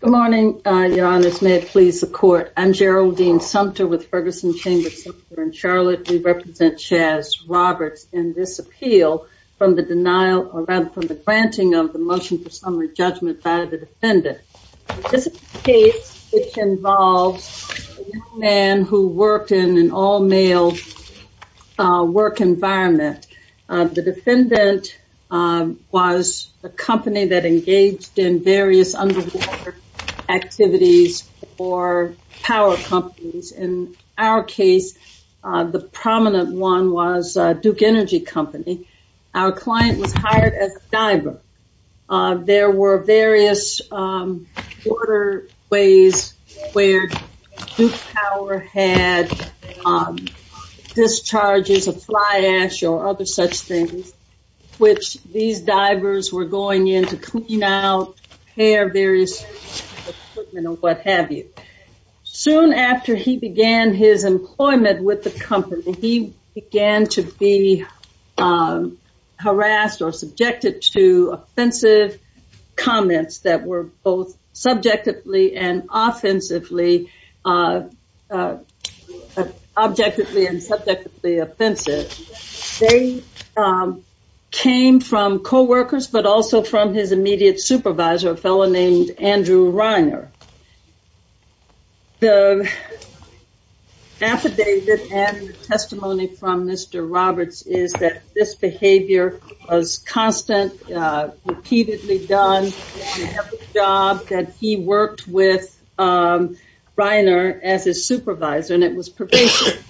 Good morning, your honors. May it please the court. I'm Geraldine Sumter with Ferguson Chamber Center in Charlotte. We represent Chazz Roberts in this appeal from the denial, or rather, from the granting of the motion for summary judgment by the defendant. This case involves a young man who worked in an all-male work environment. The defendant was a company that engaged in various underwater activities for power companies. In our case, the prominent one was Duke Energy Company. Our client was hired as a diver. There were various waterways where Duke Power had discharges of fly ash or other such things, which these divers were going in to clean out, repair various equipment, or what have you. Soon after he began his employment with the company, he began to be harassed or subjected to offensive comments that were both subjectively and offensively, objectively and subjectively offensive. They came from co-workers, but also from his immediate supervisor, a fellow named Andrew Reiner. The affidavit and testimony from Mr. Roberts is that this behavior was constant, repeatedly done in every job that he worked with Reiner as his supervisor, and it was pervasive.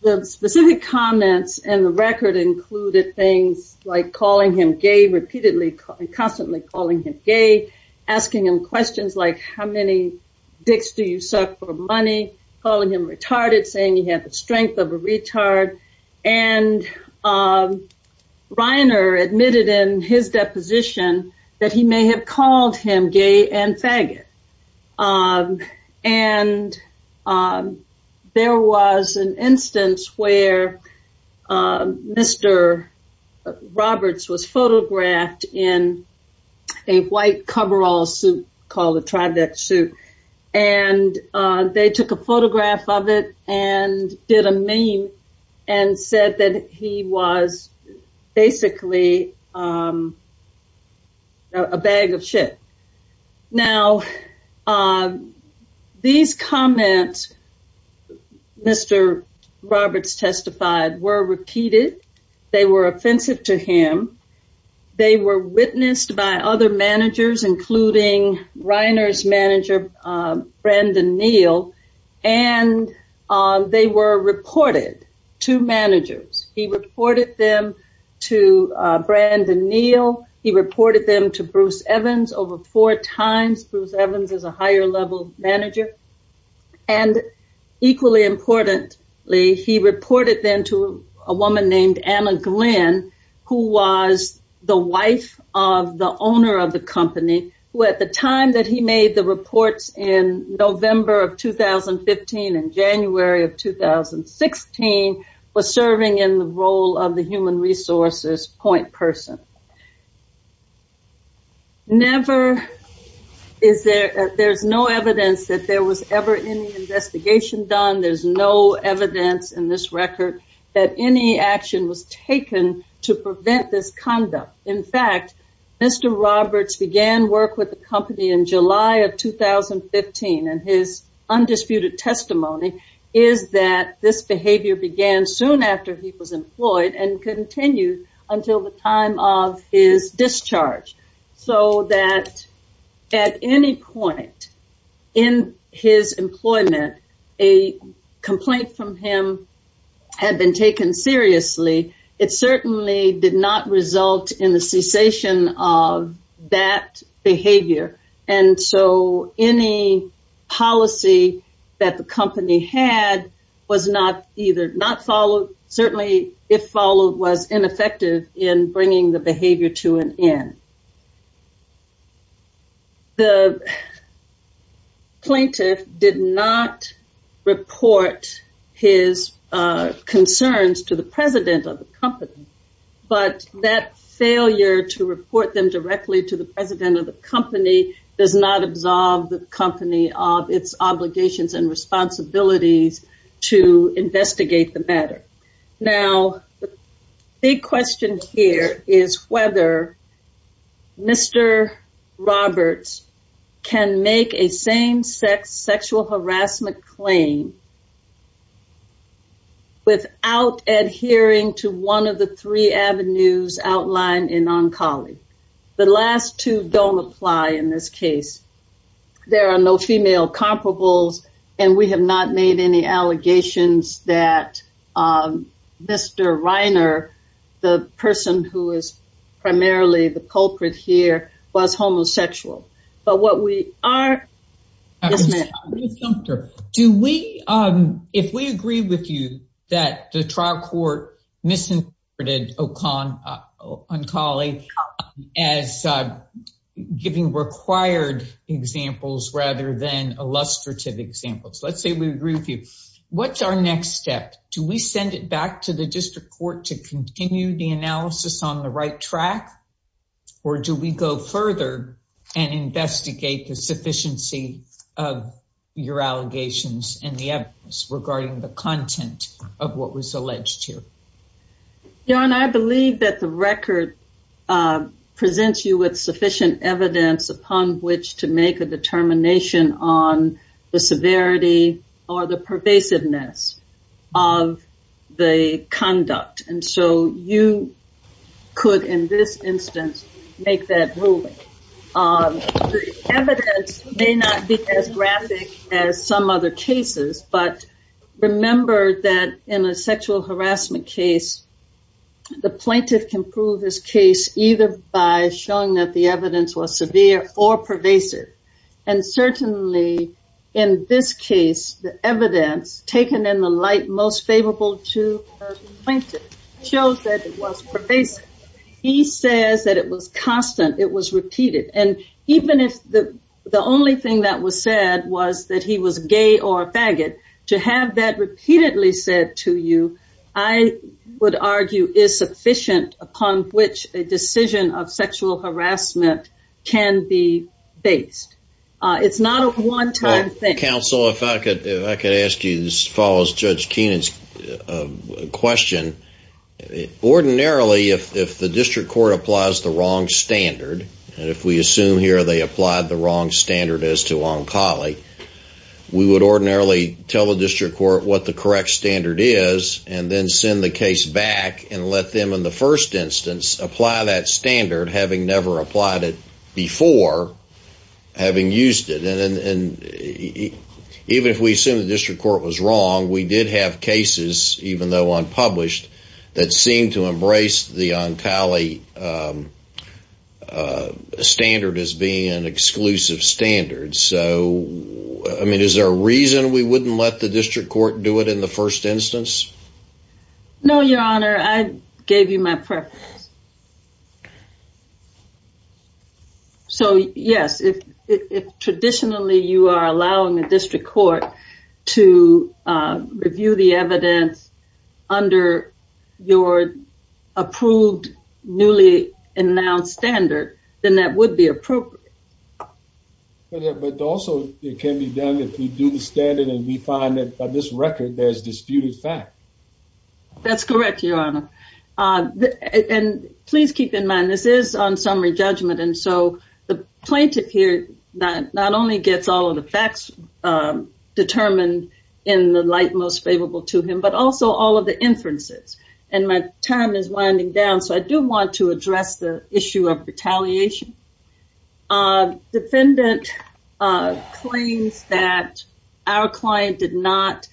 The specific comments in the record included things like calling him gay, constantly calling him gay, asking him questions like, how many dicks do you suck for money, calling him retarded, saying he had the strength of a retard, and Reiner admitted in his deposition that he may have called him gay and faggot. There was an instance where Mr. Roberts was photographed in a white coverall suit called a trivet suit. They took a photograph of it and did a meme and said that he was basically a bag of shit. Now, these comments, Mr. Roberts testified, were repeated, they were offensive to him, they were witnessed by other managers, including Reiner's manager, Brandon Neal, and they were reported to managers. He reported them to Brandon Neal, he reported them to Bruce Evans over four times, Bruce Evans is a higher level manager, and equally importantly, he reported them to a woman named Anna Glenn, who was the wife of the owner of the company, who at the time that he made the reports in November of 2015 and January of 2016, was serving in the role of the human resources point person. Never is there, there's no evidence that there was ever any investigation done, there's no evidence in this record that any action was taken to prevent this conduct. In fact, Mr. Roberts began work with the company in July of 2015, and his undisputed testimony is that this behavior began soon after he was employed and continued until the time of his discharge. So that at any point in his employment, a complaint from him had been taken seriously, it certainly did not result in the cessation of that behavior. And so any policy that the company had was not either not followed, certainly if followed, was ineffective in bringing the behavior to an end. The plaintiff did not report his concerns to the president of the company, but that failure to report them directly to the president of the company does not absolve the company of its obligations and responsibilities to investigate the matter. Now, the big question here is whether Mr. Roberts can make a same-sex sexual harassment claim without adhering to one of the three avenues outlined in Oncology. The last two don't apply in this case. There are no female comparables, and we have not made any allegations that Mr. Reiner, the person who is primarily the culprit here, was homosexual. But what we are... Do we, if we agree with you that the trial court misinterpreted Oncology as giving required examples rather than illustrative examples, let's say we agree with you. What's our next step? Do we send it back to the district court to continue the analysis on the right track, or do we go further and investigate the sufficiency of your allegations and the evidence regarding the content of what was alleged here? Yaron, I believe that the record presents you with sufficient evidence upon which to make a determination on the severity or the pervasiveness of the conduct. And so you could, in this instance, make that ruling. The evidence may not be as graphic as some other cases, but remember that in a sexual harassment case, the plaintiff can prove his case either by showing that the evidence was severe or pervasive. And certainly in this case, the evidence taken in the light most favorable to the plaintiff shows that it was pervasive. He says that it was constant, it was repeated. And even if the only thing that was said was that he was gay or a faggot, to have that repeatedly said to you, I would argue is sufficient upon which a decision of sexual harassment can be based. It's not a one time thing. Counsel, if I could ask you as follows Judge Keenan's question. Ordinarily, if the district court applies the wrong standard, and if we assume here they applied the wrong standard as to Onkali, we would ordinarily tell the district court what the correct standard is and then send the case back and let them in the first instance apply that standard, having never applied it before, having used it. And even if we assume the district court was wrong, we did have cases, even though unpublished, that seemed to embrace the Onkali standard as being an exclusive standard. So, I mean, is there a reason we wouldn't let the district court do it in the first instance? No, your honor, I gave you my preference. So, yes, if traditionally you are allowing the district court to review the evidence under your approved, newly announced standard, then that would be appropriate. But also, it can be done if we do the standard and we find that by this record, there's disputed fact. That's correct, your honor. And please keep in mind, this is on summary judgment. And so the plaintiff here not only gets all of the facts determined in the light most favorable to him, but also all of the inferences. And my time is winding down. So I do want to address the issue of retaliation. A defendant claims that our client did not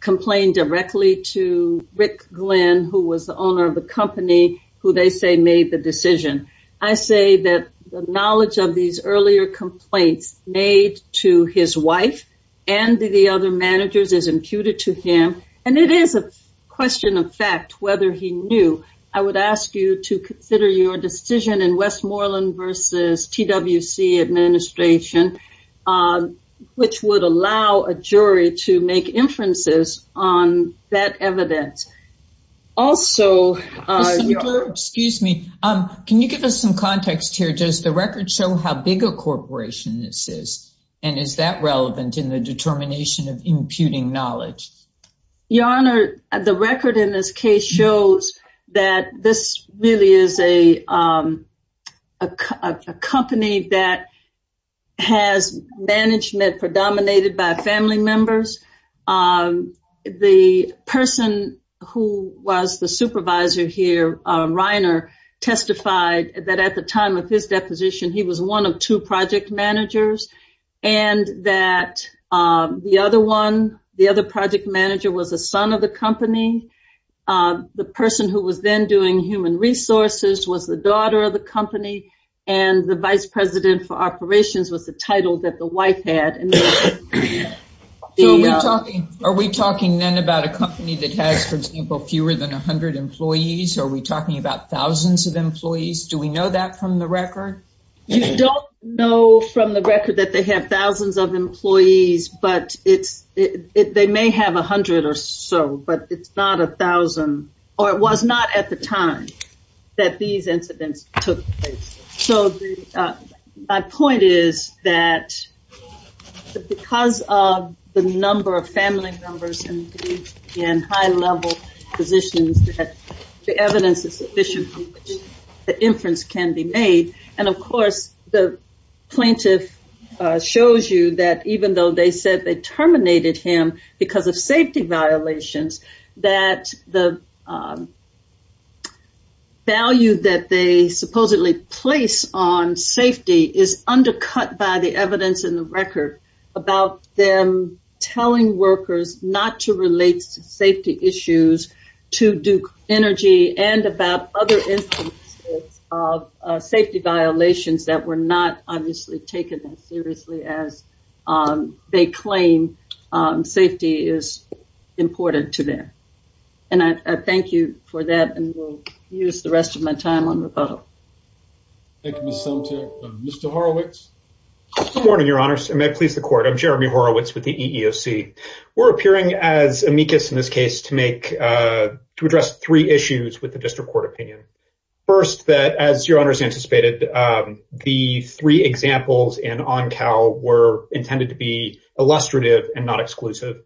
complain directly to Rick Glenn, who was the owner of the company, who they say made the decision. I say that the knowledge of these earlier complaints made to his wife and the other managers is imputed to him. And it is a question of fact whether he knew. I would ask you to consider your decision in Westmoreland versus T.W.C. administration, which would allow a jury to make inferences on that evidence. Also, excuse me, can you give us some context here? Does the record show how big a corporation this is? And is that relevant in the determination of imputing knowledge? Your honor, the record in this case shows that this really is a company that has management predominated by family members. The person who was the supervisor here, Reiner, testified that at the time of his deposition, he was one of two project managers. And that the other one, the other project manager, was a son of the company. The person who was then doing human resources was the daughter of the company. And the vice president for operations was the title that the wife had. Are we talking then about a company that has, for example, fewer than 100 employees? Are we talking about thousands of employees? Do we know that from the record? You don't know from the record that they have thousands of employees. But they may have 100 or so, but it's not a thousand. Or it was not at the time that these incidents took place. So my point is that because of the number of family members in high level positions, the evidence is sufficient from which the inference can be made. Of course, the plaintiff shows you that even though they said they terminated him because of safety violations, that the value that they supposedly place on safety is undercut by the evidence in the record about them telling workers not to relate to safety issues, to Duke Energy, and about other instances of safety violations that were not, obviously, taken as seriously as they claim safety is important to them. And I thank you for that. And we'll use the rest of my time on rebuttal. Thank you, Ms. Sumter. Mr. Horowitz? Good morning, your honors. And may it please the court. I'm Jeremy Horowitz with the EEOC. We're appearing as amicus in this case to make, to address three issues with the district court opinion. First, that as your honors anticipated, the three examples in ONCAL were intended to be illustrative and not exclusive.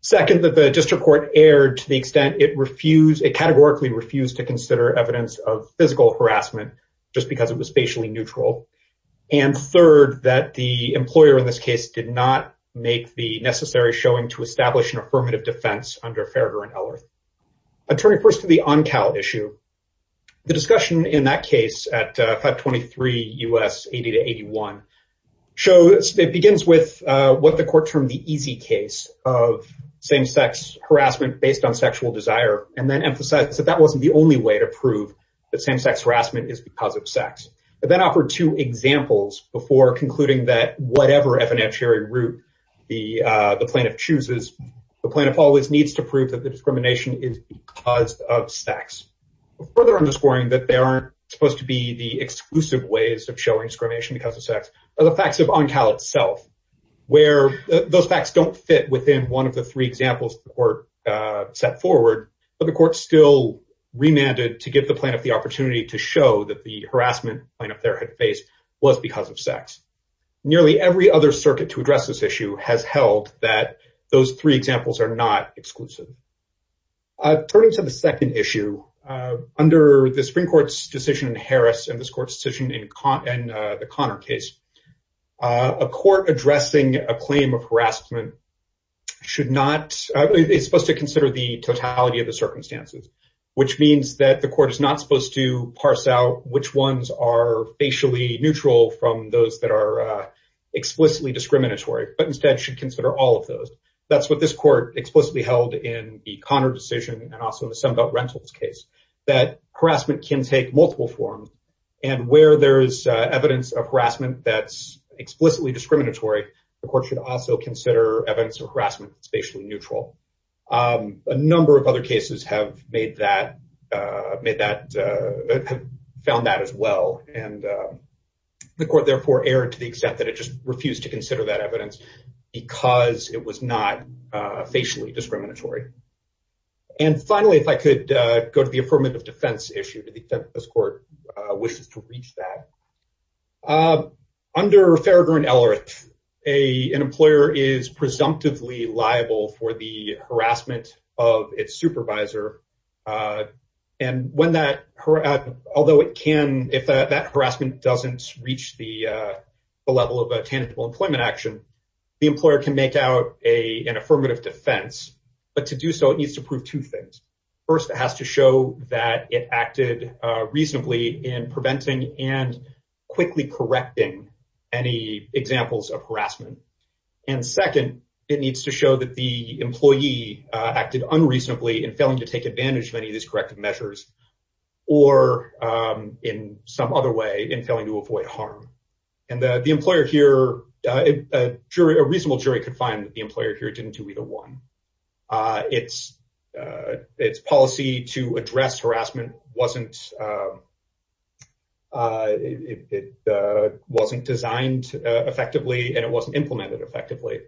Second, that the district court erred to the extent it refused, it categorically refused to consider evidence of physical harassment just because it was facially neutral. And third, that the employer in this case did not make the necessary showing to establish an affirmative defense under Farragher and Ellert. I'll turn you first to the ONCAL issue. The discussion in that case at 523 U.S. 80 to 81, shows that it begins with what the court termed the easy case of same-sex harassment based on sexual desire, and then emphasizes that that wasn't the only way to prove that same-sex harassment is because of sex. It then offered two examples before concluding that whatever evidentiary route the plaintiff chooses, the plaintiff always needs to prove that the discrimination is because of sex. Further underscoring that there aren't supposed to be the exclusive ways of showing discrimination because of sex, are the facts of ONCAL itself, where those facts don't fit within one of the three examples the court set forward, but the court still remanded to give the plaintiff the opportunity to show that the harassment the plaintiff there had faced was because of sex. Nearly every other circuit to address this issue has held that those three examples are not exclusive. Turning to the second issue, under the Supreme Court's decision in Harris and this court's decision in the Connor case, a court addressing a claim of harassment should not, it's supposed to consider the totality of the circumstances, which means that the court is not supposed to parse out which ones are facially neutral from those that are explicitly discriminatory, but instead should consider all of those. That's what this court explicitly held in the Connor decision and also in the Sunbelt Rentals case, that harassment can take multiple forms and where there's evidence of harassment that's explicitly discriminatory, the court should also consider evidence of harassment spatially neutral. A number of other cases have made that, made that, found that as well and the court therefore erred to the extent that it just refused to consider that evidence because it was not facially discriminatory. And finally, if I could go to the affirmative defense issue to the extent this court wishes to reach that. Under Farragher and Ellerith, an employer is presumptively liable for the harassment of its supervisor and when that, although it can, if that harassment doesn't reach the level of a tangible employment action, the employer can make out an affirmative defense, but to do so it needs to prove two things. First, it has to show that it acted reasonably in preventing and quickly correcting any examples of harassment. And second, it needs to show that the employee acted unreasonably in failing to take advantage of any of these corrective measures or in some other way in failing to avoid harm. And the employer here, a reasonable jury could find that the employer here didn't do either one. Its policy to address harassment wasn't designed effectively and it wasn't implemented effectively.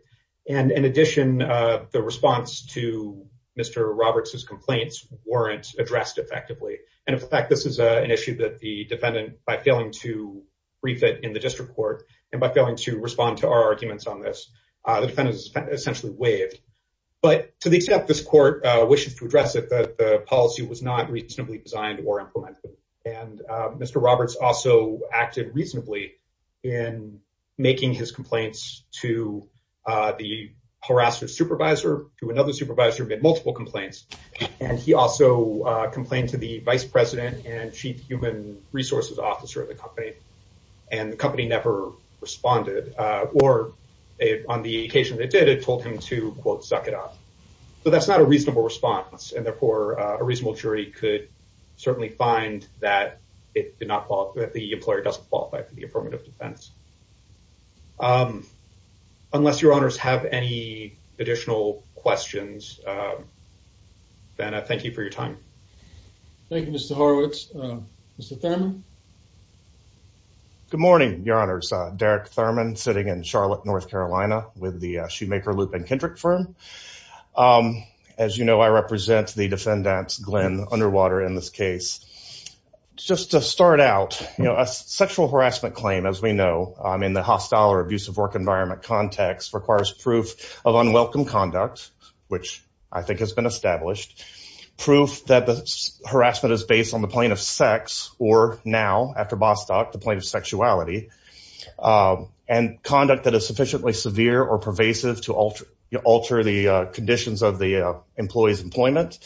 And in addition, the response to Mr. Roberts's complaints weren't addressed effectively. And in fact, this is an issue that the defendant, by failing to brief it in the district court and by failing to respond to our arguments on this, the defendant is essentially waived. But to the extent this court wishes to address it, the policy was not reasonably designed or implemented. And Mr. Roberts also acted reasonably in making his complaints to the harasser supervisor, to another supervisor who had multiple complaints. And he also complained to the vice president and chief human resources officer of the company. And the company never responded. Or on the occasion that it did, it told him to quote, suck it up. So that's not a reasonable response. And therefore a reasonable jury could certainly find that the employer doesn't qualify for the affirmative defense. Unless your honors have any additional questions, then I thank you for your time. Thank you, Mr. Horowitz. Mr. Thurman. Good morning, your honors. Derek Thurman sitting in Charlotte, North Carolina with the Shoemaker, Lupin, Kendrick firm. As you know, I represent the defendants, Glenn Underwater in this case. Just to start out, a sexual harassment claim, as we know in the hostile or abusive work environment context requires proof of unwelcome conduct, which I think has been established. Proof that the harassment is based on the plane of sex or now after Bostock, the plane of sexuality. And conduct that is sufficiently severe or pervasive to alter the conditions of the employee's employment.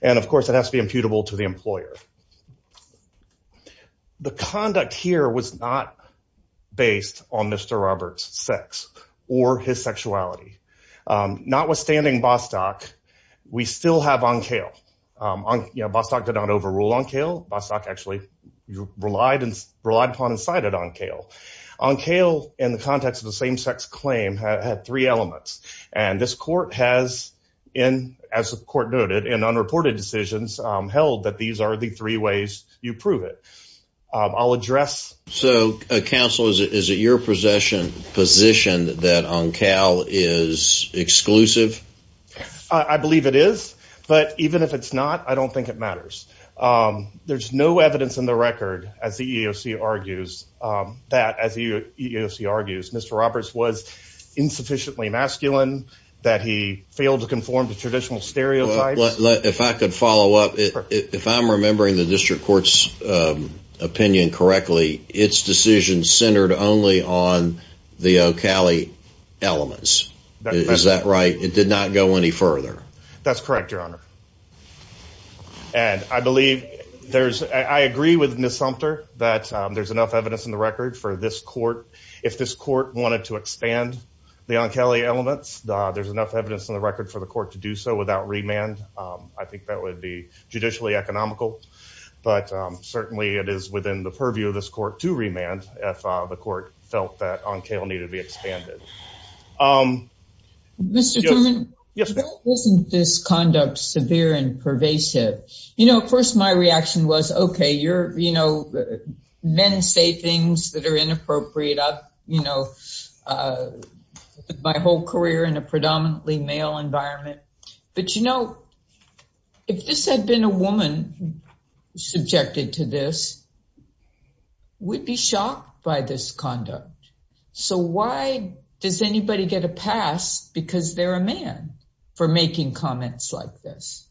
And of course, it has to be imputable to the employer. The conduct here was not based on Mr. Roberts' sex or his sexuality. Notwithstanding Bostock, we still have Onkale. Bostock did not overrule Onkale. Bostock actually relied upon and cited Onkale. Onkale, in the context of the same sex claim, had three elements. And this court has, as the court noted, in unreported decisions, held that these are the three ways you prove it. I'll address. So counsel, is it your position that Onkale is exclusive? I believe it is. But even if it's not, I don't think it matters. There's no evidence in the record, as the EEOC argues, that, as the EEOC argues, Mr. Roberts was insufficiently masculine, that he failed to conform to traditional stereotypes. If I could follow up. If I'm remembering the district court's opinion correctly, its decision centered only on the Okale elements. Is that right? It did not go any further. That's correct, your honor. And I believe there's, I agree with Ms. Sumter, that there's enough evidence in the record for this court. If this court wanted to expand the Onkale elements, there's enough evidence in the record for the court to do so without remand. I think that would be judicially economical. But certainly it is within the purview of this court to remand if the court felt that Onkale needed to be expanded. Mr. Thurman, isn't this conduct severe and pervasive? You know, at first my reaction was, okay, you're, you know, men say things that are inappropriate. I've, you know, my whole career in a predominantly male environment. But you know, if this had been a woman subjected to this, we'd be shocked by this conduct. So why does anybody get a pass because they're a man for making comments like this?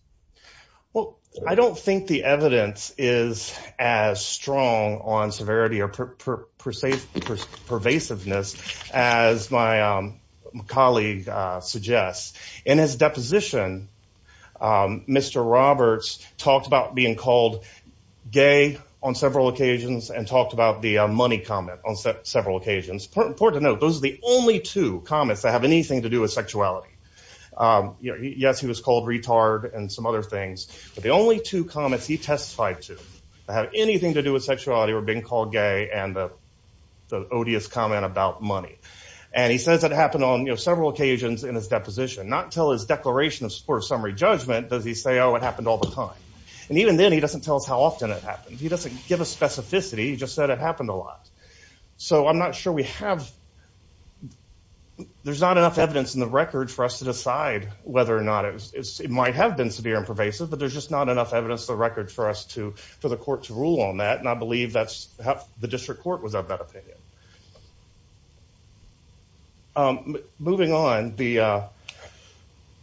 Well, I don't think the evidence is as strong on severity or pervasiveness as my colleague suggests. In his deposition, Mr. Roberts talked about being called gay on several occasions and talked about the money comment on several occasions. Important to note, those are the only two comments that have anything to do with sexuality. You know, yes, he was called retard and some other things. But the only two comments he testified to that have anything to do with sexuality were being called gay and the odious comment about money. And he says it happened on, you know, several occasions in his deposition. Not until his declaration of summary judgment does he say, oh, it happened all the time. And even then, he doesn't tell us how often it happened. He doesn't give a specificity. He just said it happened a lot. So I'm not sure we have, there's not enough evidence in the record for us to decide whether or not it might have been severe and pervasive. But there's just not enough evidence in the record for us to, for the court to rule on that. And I believe that's how the district court was of that opinion. Moving on, the,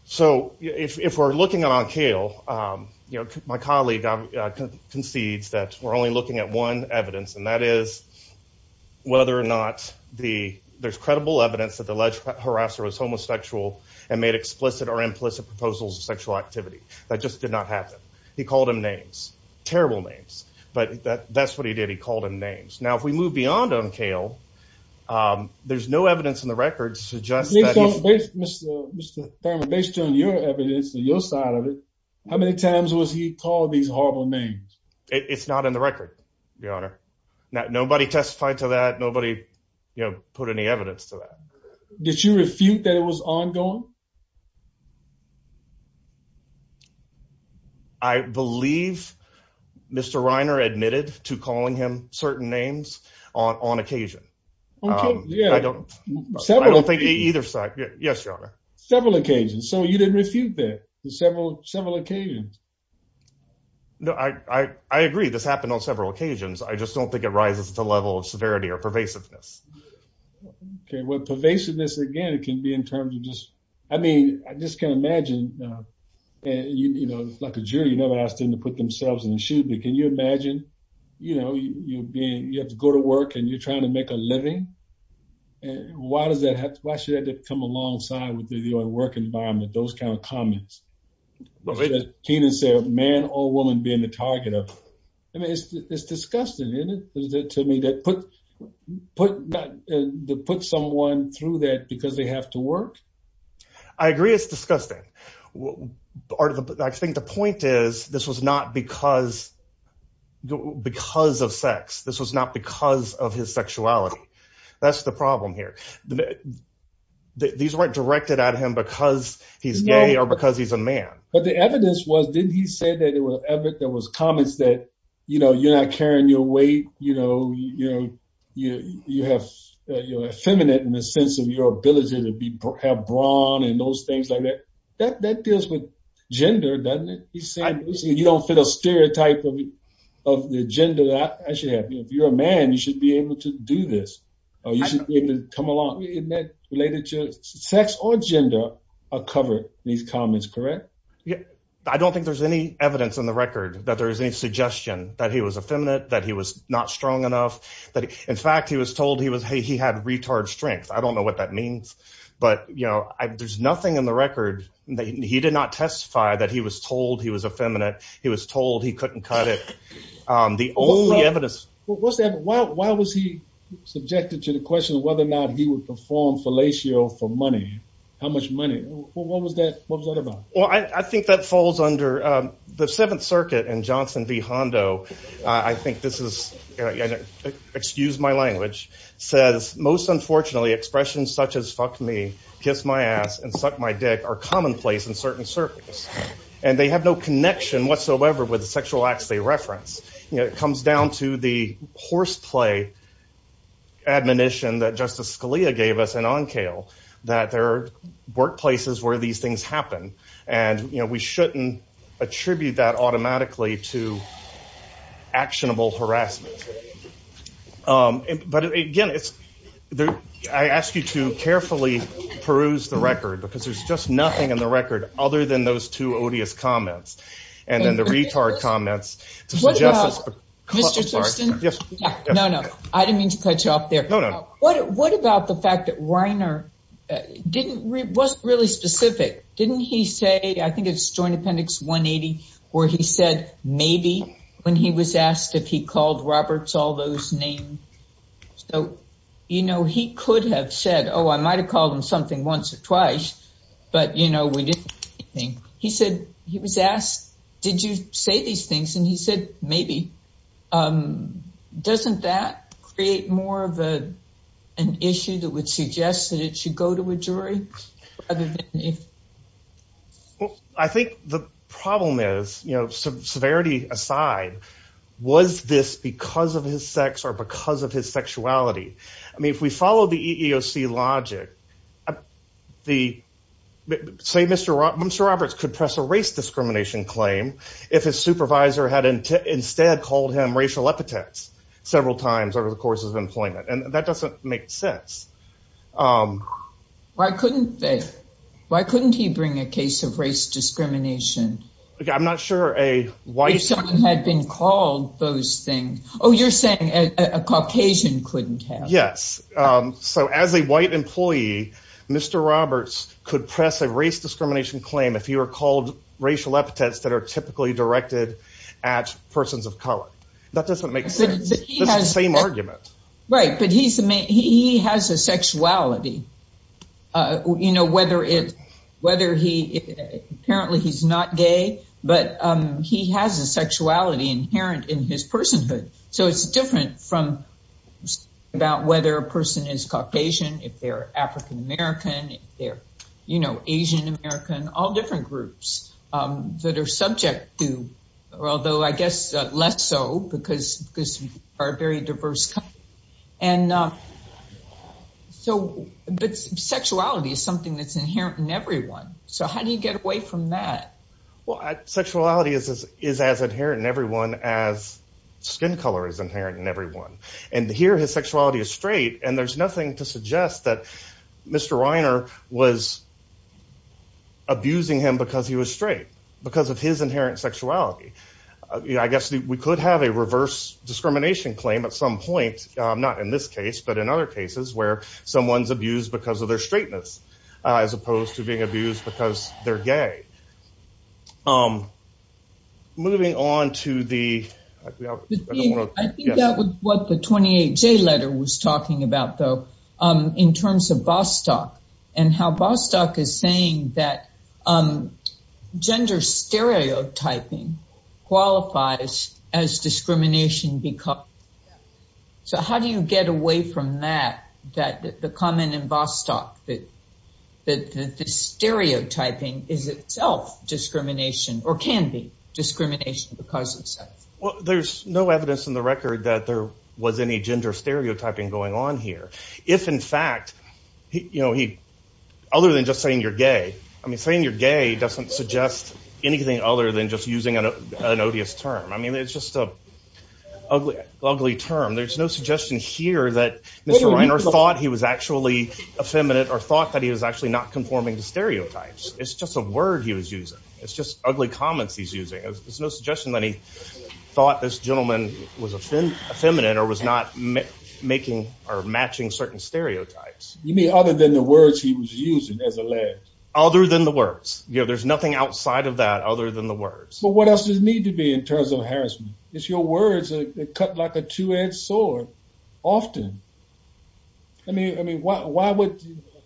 so if we're looking at Onkale, you know, my colleague concedes that we're only looking at one evidence, and that is whether or not the, there's credible evidence that the alleged harasser was homosexual and made explicit or implicit proposals of sexual activity. That just did not happen. He called him names, terrible names, but that's what he did. He called him names. Now, if we move beyond Onkale, there's no evidence in the record suggests that he's- Based on, Mr. Thurman, based on your evidence and your side of it, how many times was he called these horrible names? It's not in the record, your honor. Nobody testified to that. Nobody, you know, put any evidence to that. Did you refute that it was ongoing? I believe Mr. Reiner admitted to calling him certain names on occasion. Okay, yeah. I don't, I don't think either side. Yes, your honor. Several occasions. So you didn't refute that, several occasions. No, I agree. This happened on several occasions. I just don't think it rises to the level of severity or pervasiveness. Okay, well, pervasiveness, again, it can be in terms of just, I mean, I just can't imagine, you know, like a jury, you never asked them to put themselves in a shoot, but can you imagine, you know, you being, you have to go to work and you're trying to make a living? And why does that have to, why should that come alongside with the work environment, those kinds of comments? Keenan said, man or woman being the target of, I mean, it's disgusting, isn't it, to me, to put someone through that because they have to work? I agree, it's disgusting. I think the point is, this was not because of sex. This was not because of his sexuality. That's the problem here. These weren't directed at him because he's gay or because he's a man. But the evidence was, didn't he say that it was, there was comments that, you know, you're not carrying your weight, you know, you have, you're effeminate in the sense of your ability to have brawn and those things like that. That deals with gender, doesn't it? He's saying, you don't fit a stereotype of the gender that I should have. If you're a man, you should be able to do this. Or you should be able to come along. Isn't that related to sex or gender are covered in these comments, correct? I don't think there's any evidence on the record that there is any suggestion that he was effeminate, that he was not strong enough, that in fact, he was told he was, hey, he had retard strength. I don't know what that means. But, you know, there's nothing in the record that he did not testify that he was told he was effeminate. He was told he couldn't cut it. The only evidence- Why was he subjected to the question of whether or not he would perform fellatio for money? How much money? What was that about? Well, I think that falls under the Seventh Circuit and Johnson v. Hondo, I think this is, excuse my language, says, most unfortunately, expressions such as fuck me, kiss my ass, and suck my dick are commonplace in certain circles. And they have no connection whatsoever with the sexual acts they reference. You know, it comes down to the horseplay admonition that Justice Scalia gave us in Oncale, that there are workplaces where these things happen. And, you know, we shouldn't attribute that automatically to actionable harassment. But again, I ask you to carefully peruse the record, because there's just nothing in the record other than those two odious comments. And then the retard comments- Mr. Thurston, no, no, I didn't mean to cut you off there. What about the fact that Reiner wasn't really specific? Didn't he say, I think it's Joint Appendix 180, where he said, maybe, when he was asked if he called Roberts, all those names. So, you know, he could have said, oh, I might've called him something once or twice. But, you know, we didn't do anything. He said, he was asked, did you say these things? And he said, maybe. Doesn't that create more of an issue that would suggest that it should go to a jury rather than me? Well, I think the problem is, you know, severity aside, was this because of his sex or because of his sexuality? I mean, if we follow the EEOC logic, Mr. Roberts could press a race discrimination claim if his supervisor had instead called him racial epithets several times over the course of employment. And that doesn't make sense. Why couldn't he bring a case of race discrimination? I'm not sure a white- If someone had been called those things. Oh, you're saying a Caucasian couldn't have. Yes. So as a white employee, Mr. Roberts could press a race discrimination claim if he were called racial epithets that are typically directed at persons of color. That doesn't make sense. It's the same argument. Right, but he has a sexuality. You know, whether he, apparently he's not gay, but he has a sexuality inherent in his personhood. So it's different from about whether a person is Caucasian, if they're African-American, if they're, you know, Asian-American, all different groups that are subject to, or although I guess less so because we are a very diverse country. And so, but sexuality is something that's inherent in everyone. So how do you get away from that? Well, sexuality is as inherent in everyone as skin color is inherent in everyone. And here his sexuality is straight. And there's nothing to suggest that Mr. Reiner was abusing him because he was straight because of his inherent sexuality. I guess we could have a reverse discrimination claim at some point, not in this case, but in other cases where someone's abused because of their straightness, as opposed to being abused because they're gay. Moving on to the- I think that was what the 28J letter was talking about though, in terms of Bostock and how Bostock is saying that gender stereotyping qualifies as discrimination because. So how do you get away from that, that the comment in Bostock, that the stereotyping is itself discrimination or can be discrimination because of sex? Well, there's no evidence in the record that there was any gender stereotyping going on here. If in fact, you know, he, other than just saying you're gay, I mean, saying you're gay doesn't suggest anything other than just using an odious term. I mean, it's just a ugly term. There's no suggestion here that Mr. Reiner thought he was actually effeminate or thought that he was actually not conforming to stereotypes. It's just a word he was using. It's just ugly comments he's using. There's no suggestion that he thought this gentleman was effeminate or was not making or matching certain stereotypes. You mean other than the words he was using as alleged? Other than the words. You know, there's nothing outside of that other than the words. But what else does it need to be in terms of harassment? It's your words that cut like a two-edged sword often. I mean, why would,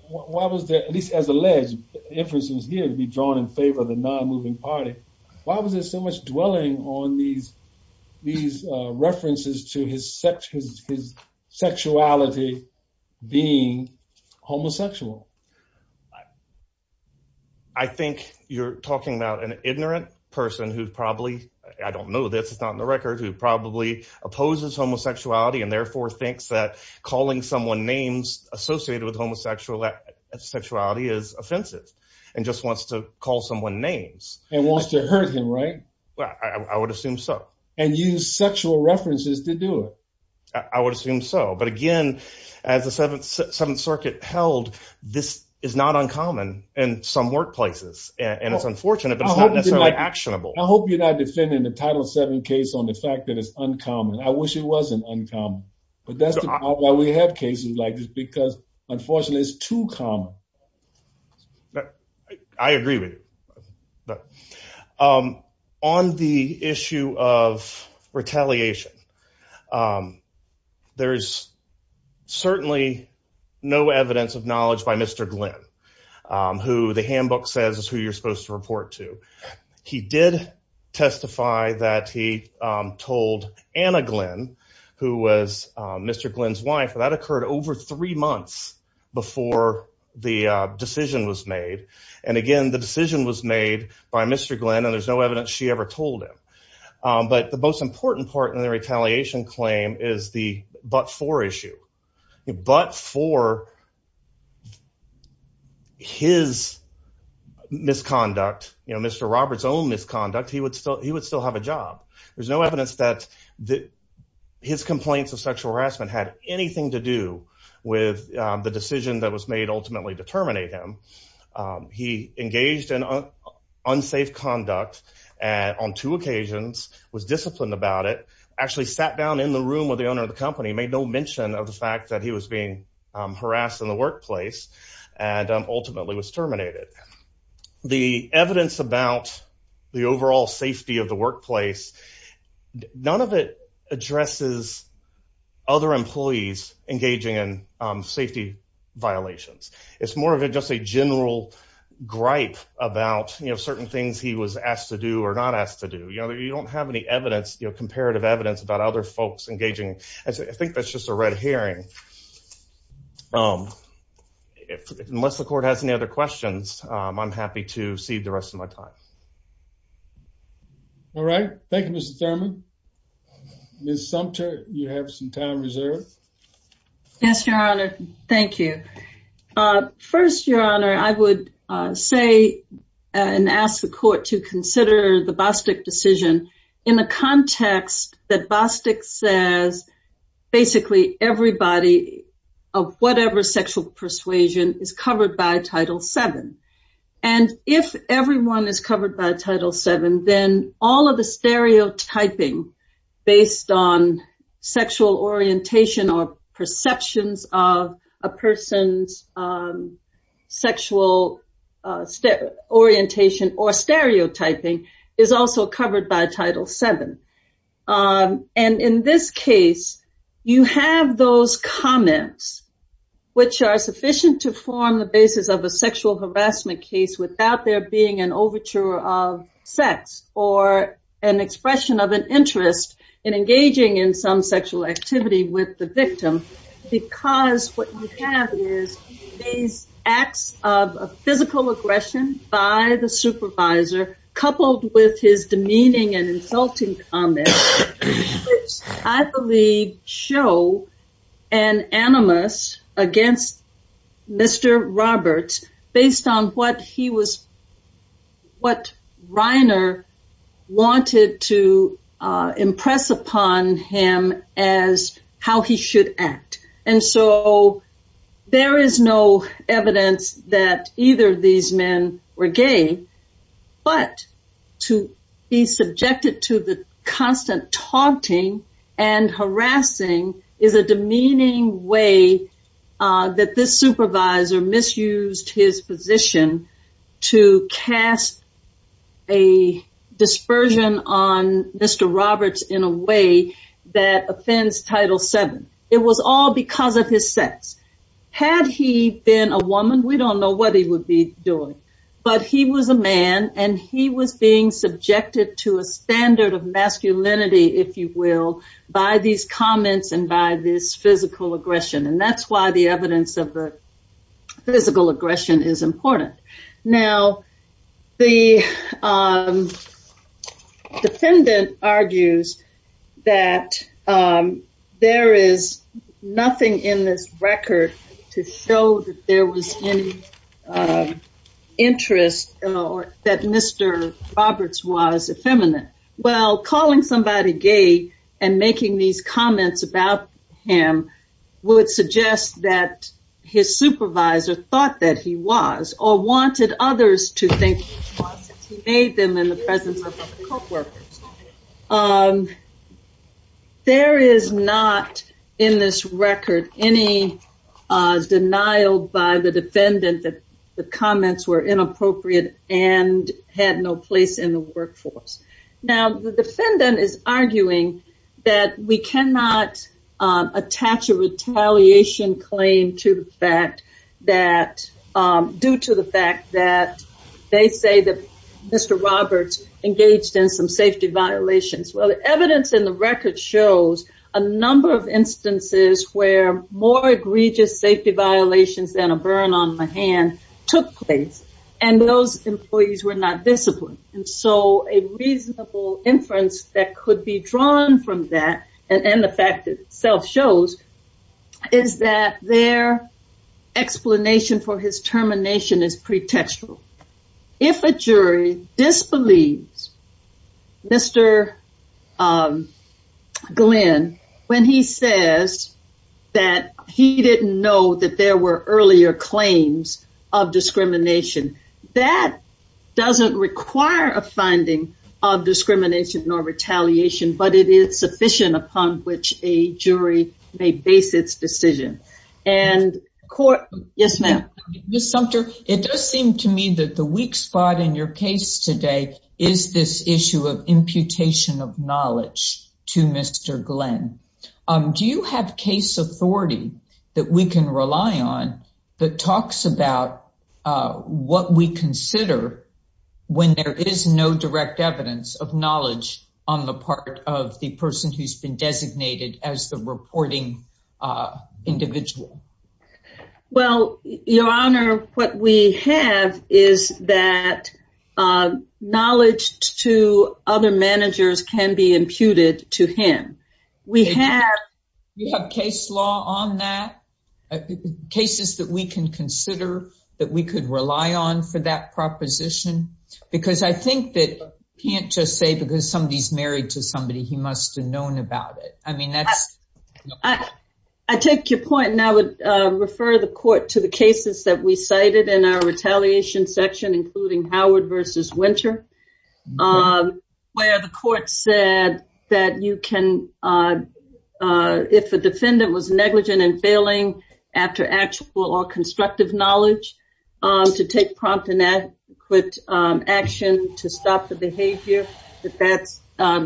why was there, at least as alleged, inferences here to be drawn in favor of the non-moving party? Why was there so much dwelling on these references to his sexuality being homosexual? I think you're talking about an ignorant person who probably, I don't know this, it's not in the record, who probably opposes homosexuality and therefore thinks that calling someone names associated with homosexuality is offensive and just wants to call someone names. And wants to hurt him, right? Well, I would assume so. And use sexual references to do it. I would assume so. But again, as the Seventh Circuit held, this is not uncommon in some workplaces and it's unfortunate, but it's not necessarily actionable. I hope you're not defending the Title VII case on the fact that it's uncommon. I wish it wasn't uncommon. But that's why we have cases like this because unfortunately it's too common. I agree with you. On the issue of retaliation, there's certainly no evidence of knowledge by Mr. Glenn who the handbook says is who you're supposed to report to. He did testify that he told Anna Glenn, who was Mr. Glenn's wife, that occurred over three months before the decision was made. And again, the decision was made by Mr. Glenn and there's no evidence she ever told him. But the most important part in the retaliation claim is the but-for issue. But for his misconduct, Mr. Roberts' own misconduct, he would still have a job. There's no evidence that his complaints of sexual harassment had anything to do with the decision that was made ultimately to terminate him. He engaged in unsafe conduct on two occasions, was disciplined about it, actually sat down in the room with the owner of the company, made no mention of the fact that he was being harassed in the workplace and ultimately was terminated. The evidence about the overall safety of the workplace, none of it addresses other employees engaging in safety violations. It's more of just a general gripe about certain things he was asked to do or not asked to do. You know, you don't have any evidence, you know, comparative evidence about other folks engaging. I think that's just a red herring. Unless the court has any other questions, I'm happy to cede the rest of my time. All right. Thank you, Mr. Thurman. Ms. Sumter, you have some time reserved. Yes, Your Honor. Thank you. First, Your Honor, I would say and ask the court to consider the Bostick decision in the context that Bostick says, basically, everybody of whatever sexual persuasion is covered by Title VII. And if everyone is covered by Title VII, then all of the stereotyping based on sexual orientation or perceptions of a person's sexual orientation or stereotyping is also covered by Title VII. And in this case, you have those comments which are sufficient to form the basis of a sexual harassment case without there being an overture of sex or an expression of an interest in engaging in some sexual activity with the victim because what you have is these acts of physical aggression by the supervisor coupled with his demeaning and insulting comments, which I believe show an animus against Mr. Roberts based on what he was, what Reiner wanted to impress upon him as how he should act. And so there is no evidence that either of these men were gay, but to be subjected to the constant taunting and harassing is a demeaning way that this supervisor misused his position to cast a dispersion on Mr. Roberts in a way that offends Title VII. It was all because of his sex. Had he been a woman, we don't know what he would be doing, but he was a man and he was being subjected to a standard of masculinity, if you will, by these comments and by this physical aggression. And that's why the evidence of the physical aggression is important. Now, the defendant argues that there is nothing in this record to show that there was any interest that Mr. Roberts was effeminate. Well, calling somebody gay and making these comments about him would suggest that his supervisor thought that he was or wanted others to think that he made them in the presence of the co-workers. And there is not in this record any denial by the defendant that the comments were inappropriate and had no place in the workforce. Now, the defendant is arguing that we cannot attach a retaliation claim due to the fact that they say that Mr. Roberts engaged in some safety violations. Well, the evidence in the record shows a number of instances where more egregious safety violations than a burn on the hand took place and those employees were not disciplined. And so a reasonable inference that could be drawn from that and the fact itself shows is that their explanation for his termination is pretextual. If a jury disbelieves Mr. Glenn when he says that he didn't know that there were earlier claims of discrimination, that doesn't require a finding of discrimination or retaliation, but it is sufficient upon which a jury may base its decision. And court... Yes, ma'am. Ms. Sumter, it does seem to me that the weak spot in your case today is this issue of imputation of knowledge to Mr. Glenn. Do you have case authority that we can rely on that talks about what we consider when there is no direct evidence of knowledge on the part of the person who's been designated as the reporting individual? Well, Your Honor, what we have is that knowledge to other managers can be imputed to him. We have case law on that, cases that we can consider that we could rely on for that proposition because I think that you can't just say because somebody's married to somebody he must have known about it. I mean, that's... I take your point and I would refer the court to the cases that we cited in our retaliation section, including Howard versus Winter, where the court said that you can... If a defendant was negligent and failing after actual or constructive knowledge to take prompt and adequate action to stop the behavior, that that's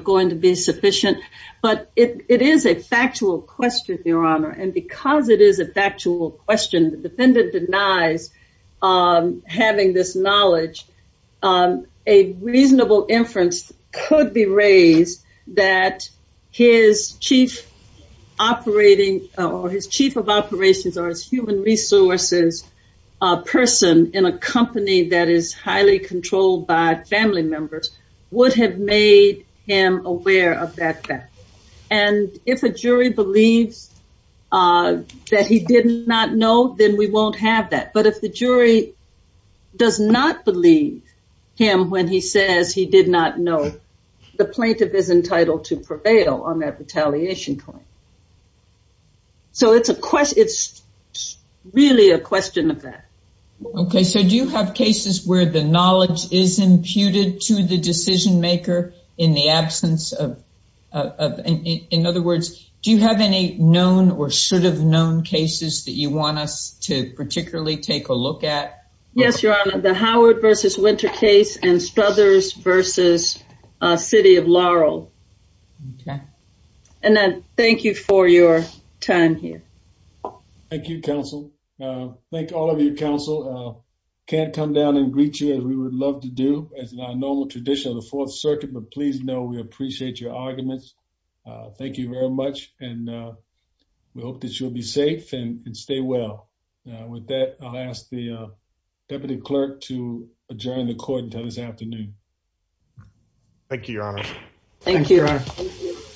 going to be sufficient. But it is a factual question, Your Honor. And because it is a factual question, the defendant denies having this knowledge. A reasonable inference could be raised that his chief operating or his chief of operations or his human resources person in a company that is highly controlled by family members would have made him aware of that fact. And if a jury believes that he did not know, then we won't have that. But if the jury does not believe him when he says he did not know, the plaintiff is entitled to prevail on that retaliation claim. So it's really a question of that. Okay. So do you have cases where the knowledge is imputed to the decision maker in the absence of... In other words, do you have any known or should have known cases that you want us to, particularly, take a look at? Yes, Your Honor. The Howard v. Wintercase and Struthers v. City of Laurel. Okay. And I thank you for your time here. Thank you, counsel. Thank all of you, counsel. Can't come down and greet you as we would love to do as in our normal tradition of the Fourth Circuit, but please know we appreciate your arguments. Thank you very much. And we hope that you'll be safe and stay well with that. I'll ask the Deputy Clerk to adjourn the court until this afternoon. Thank you, Your Honor. Thank you, Your Honor.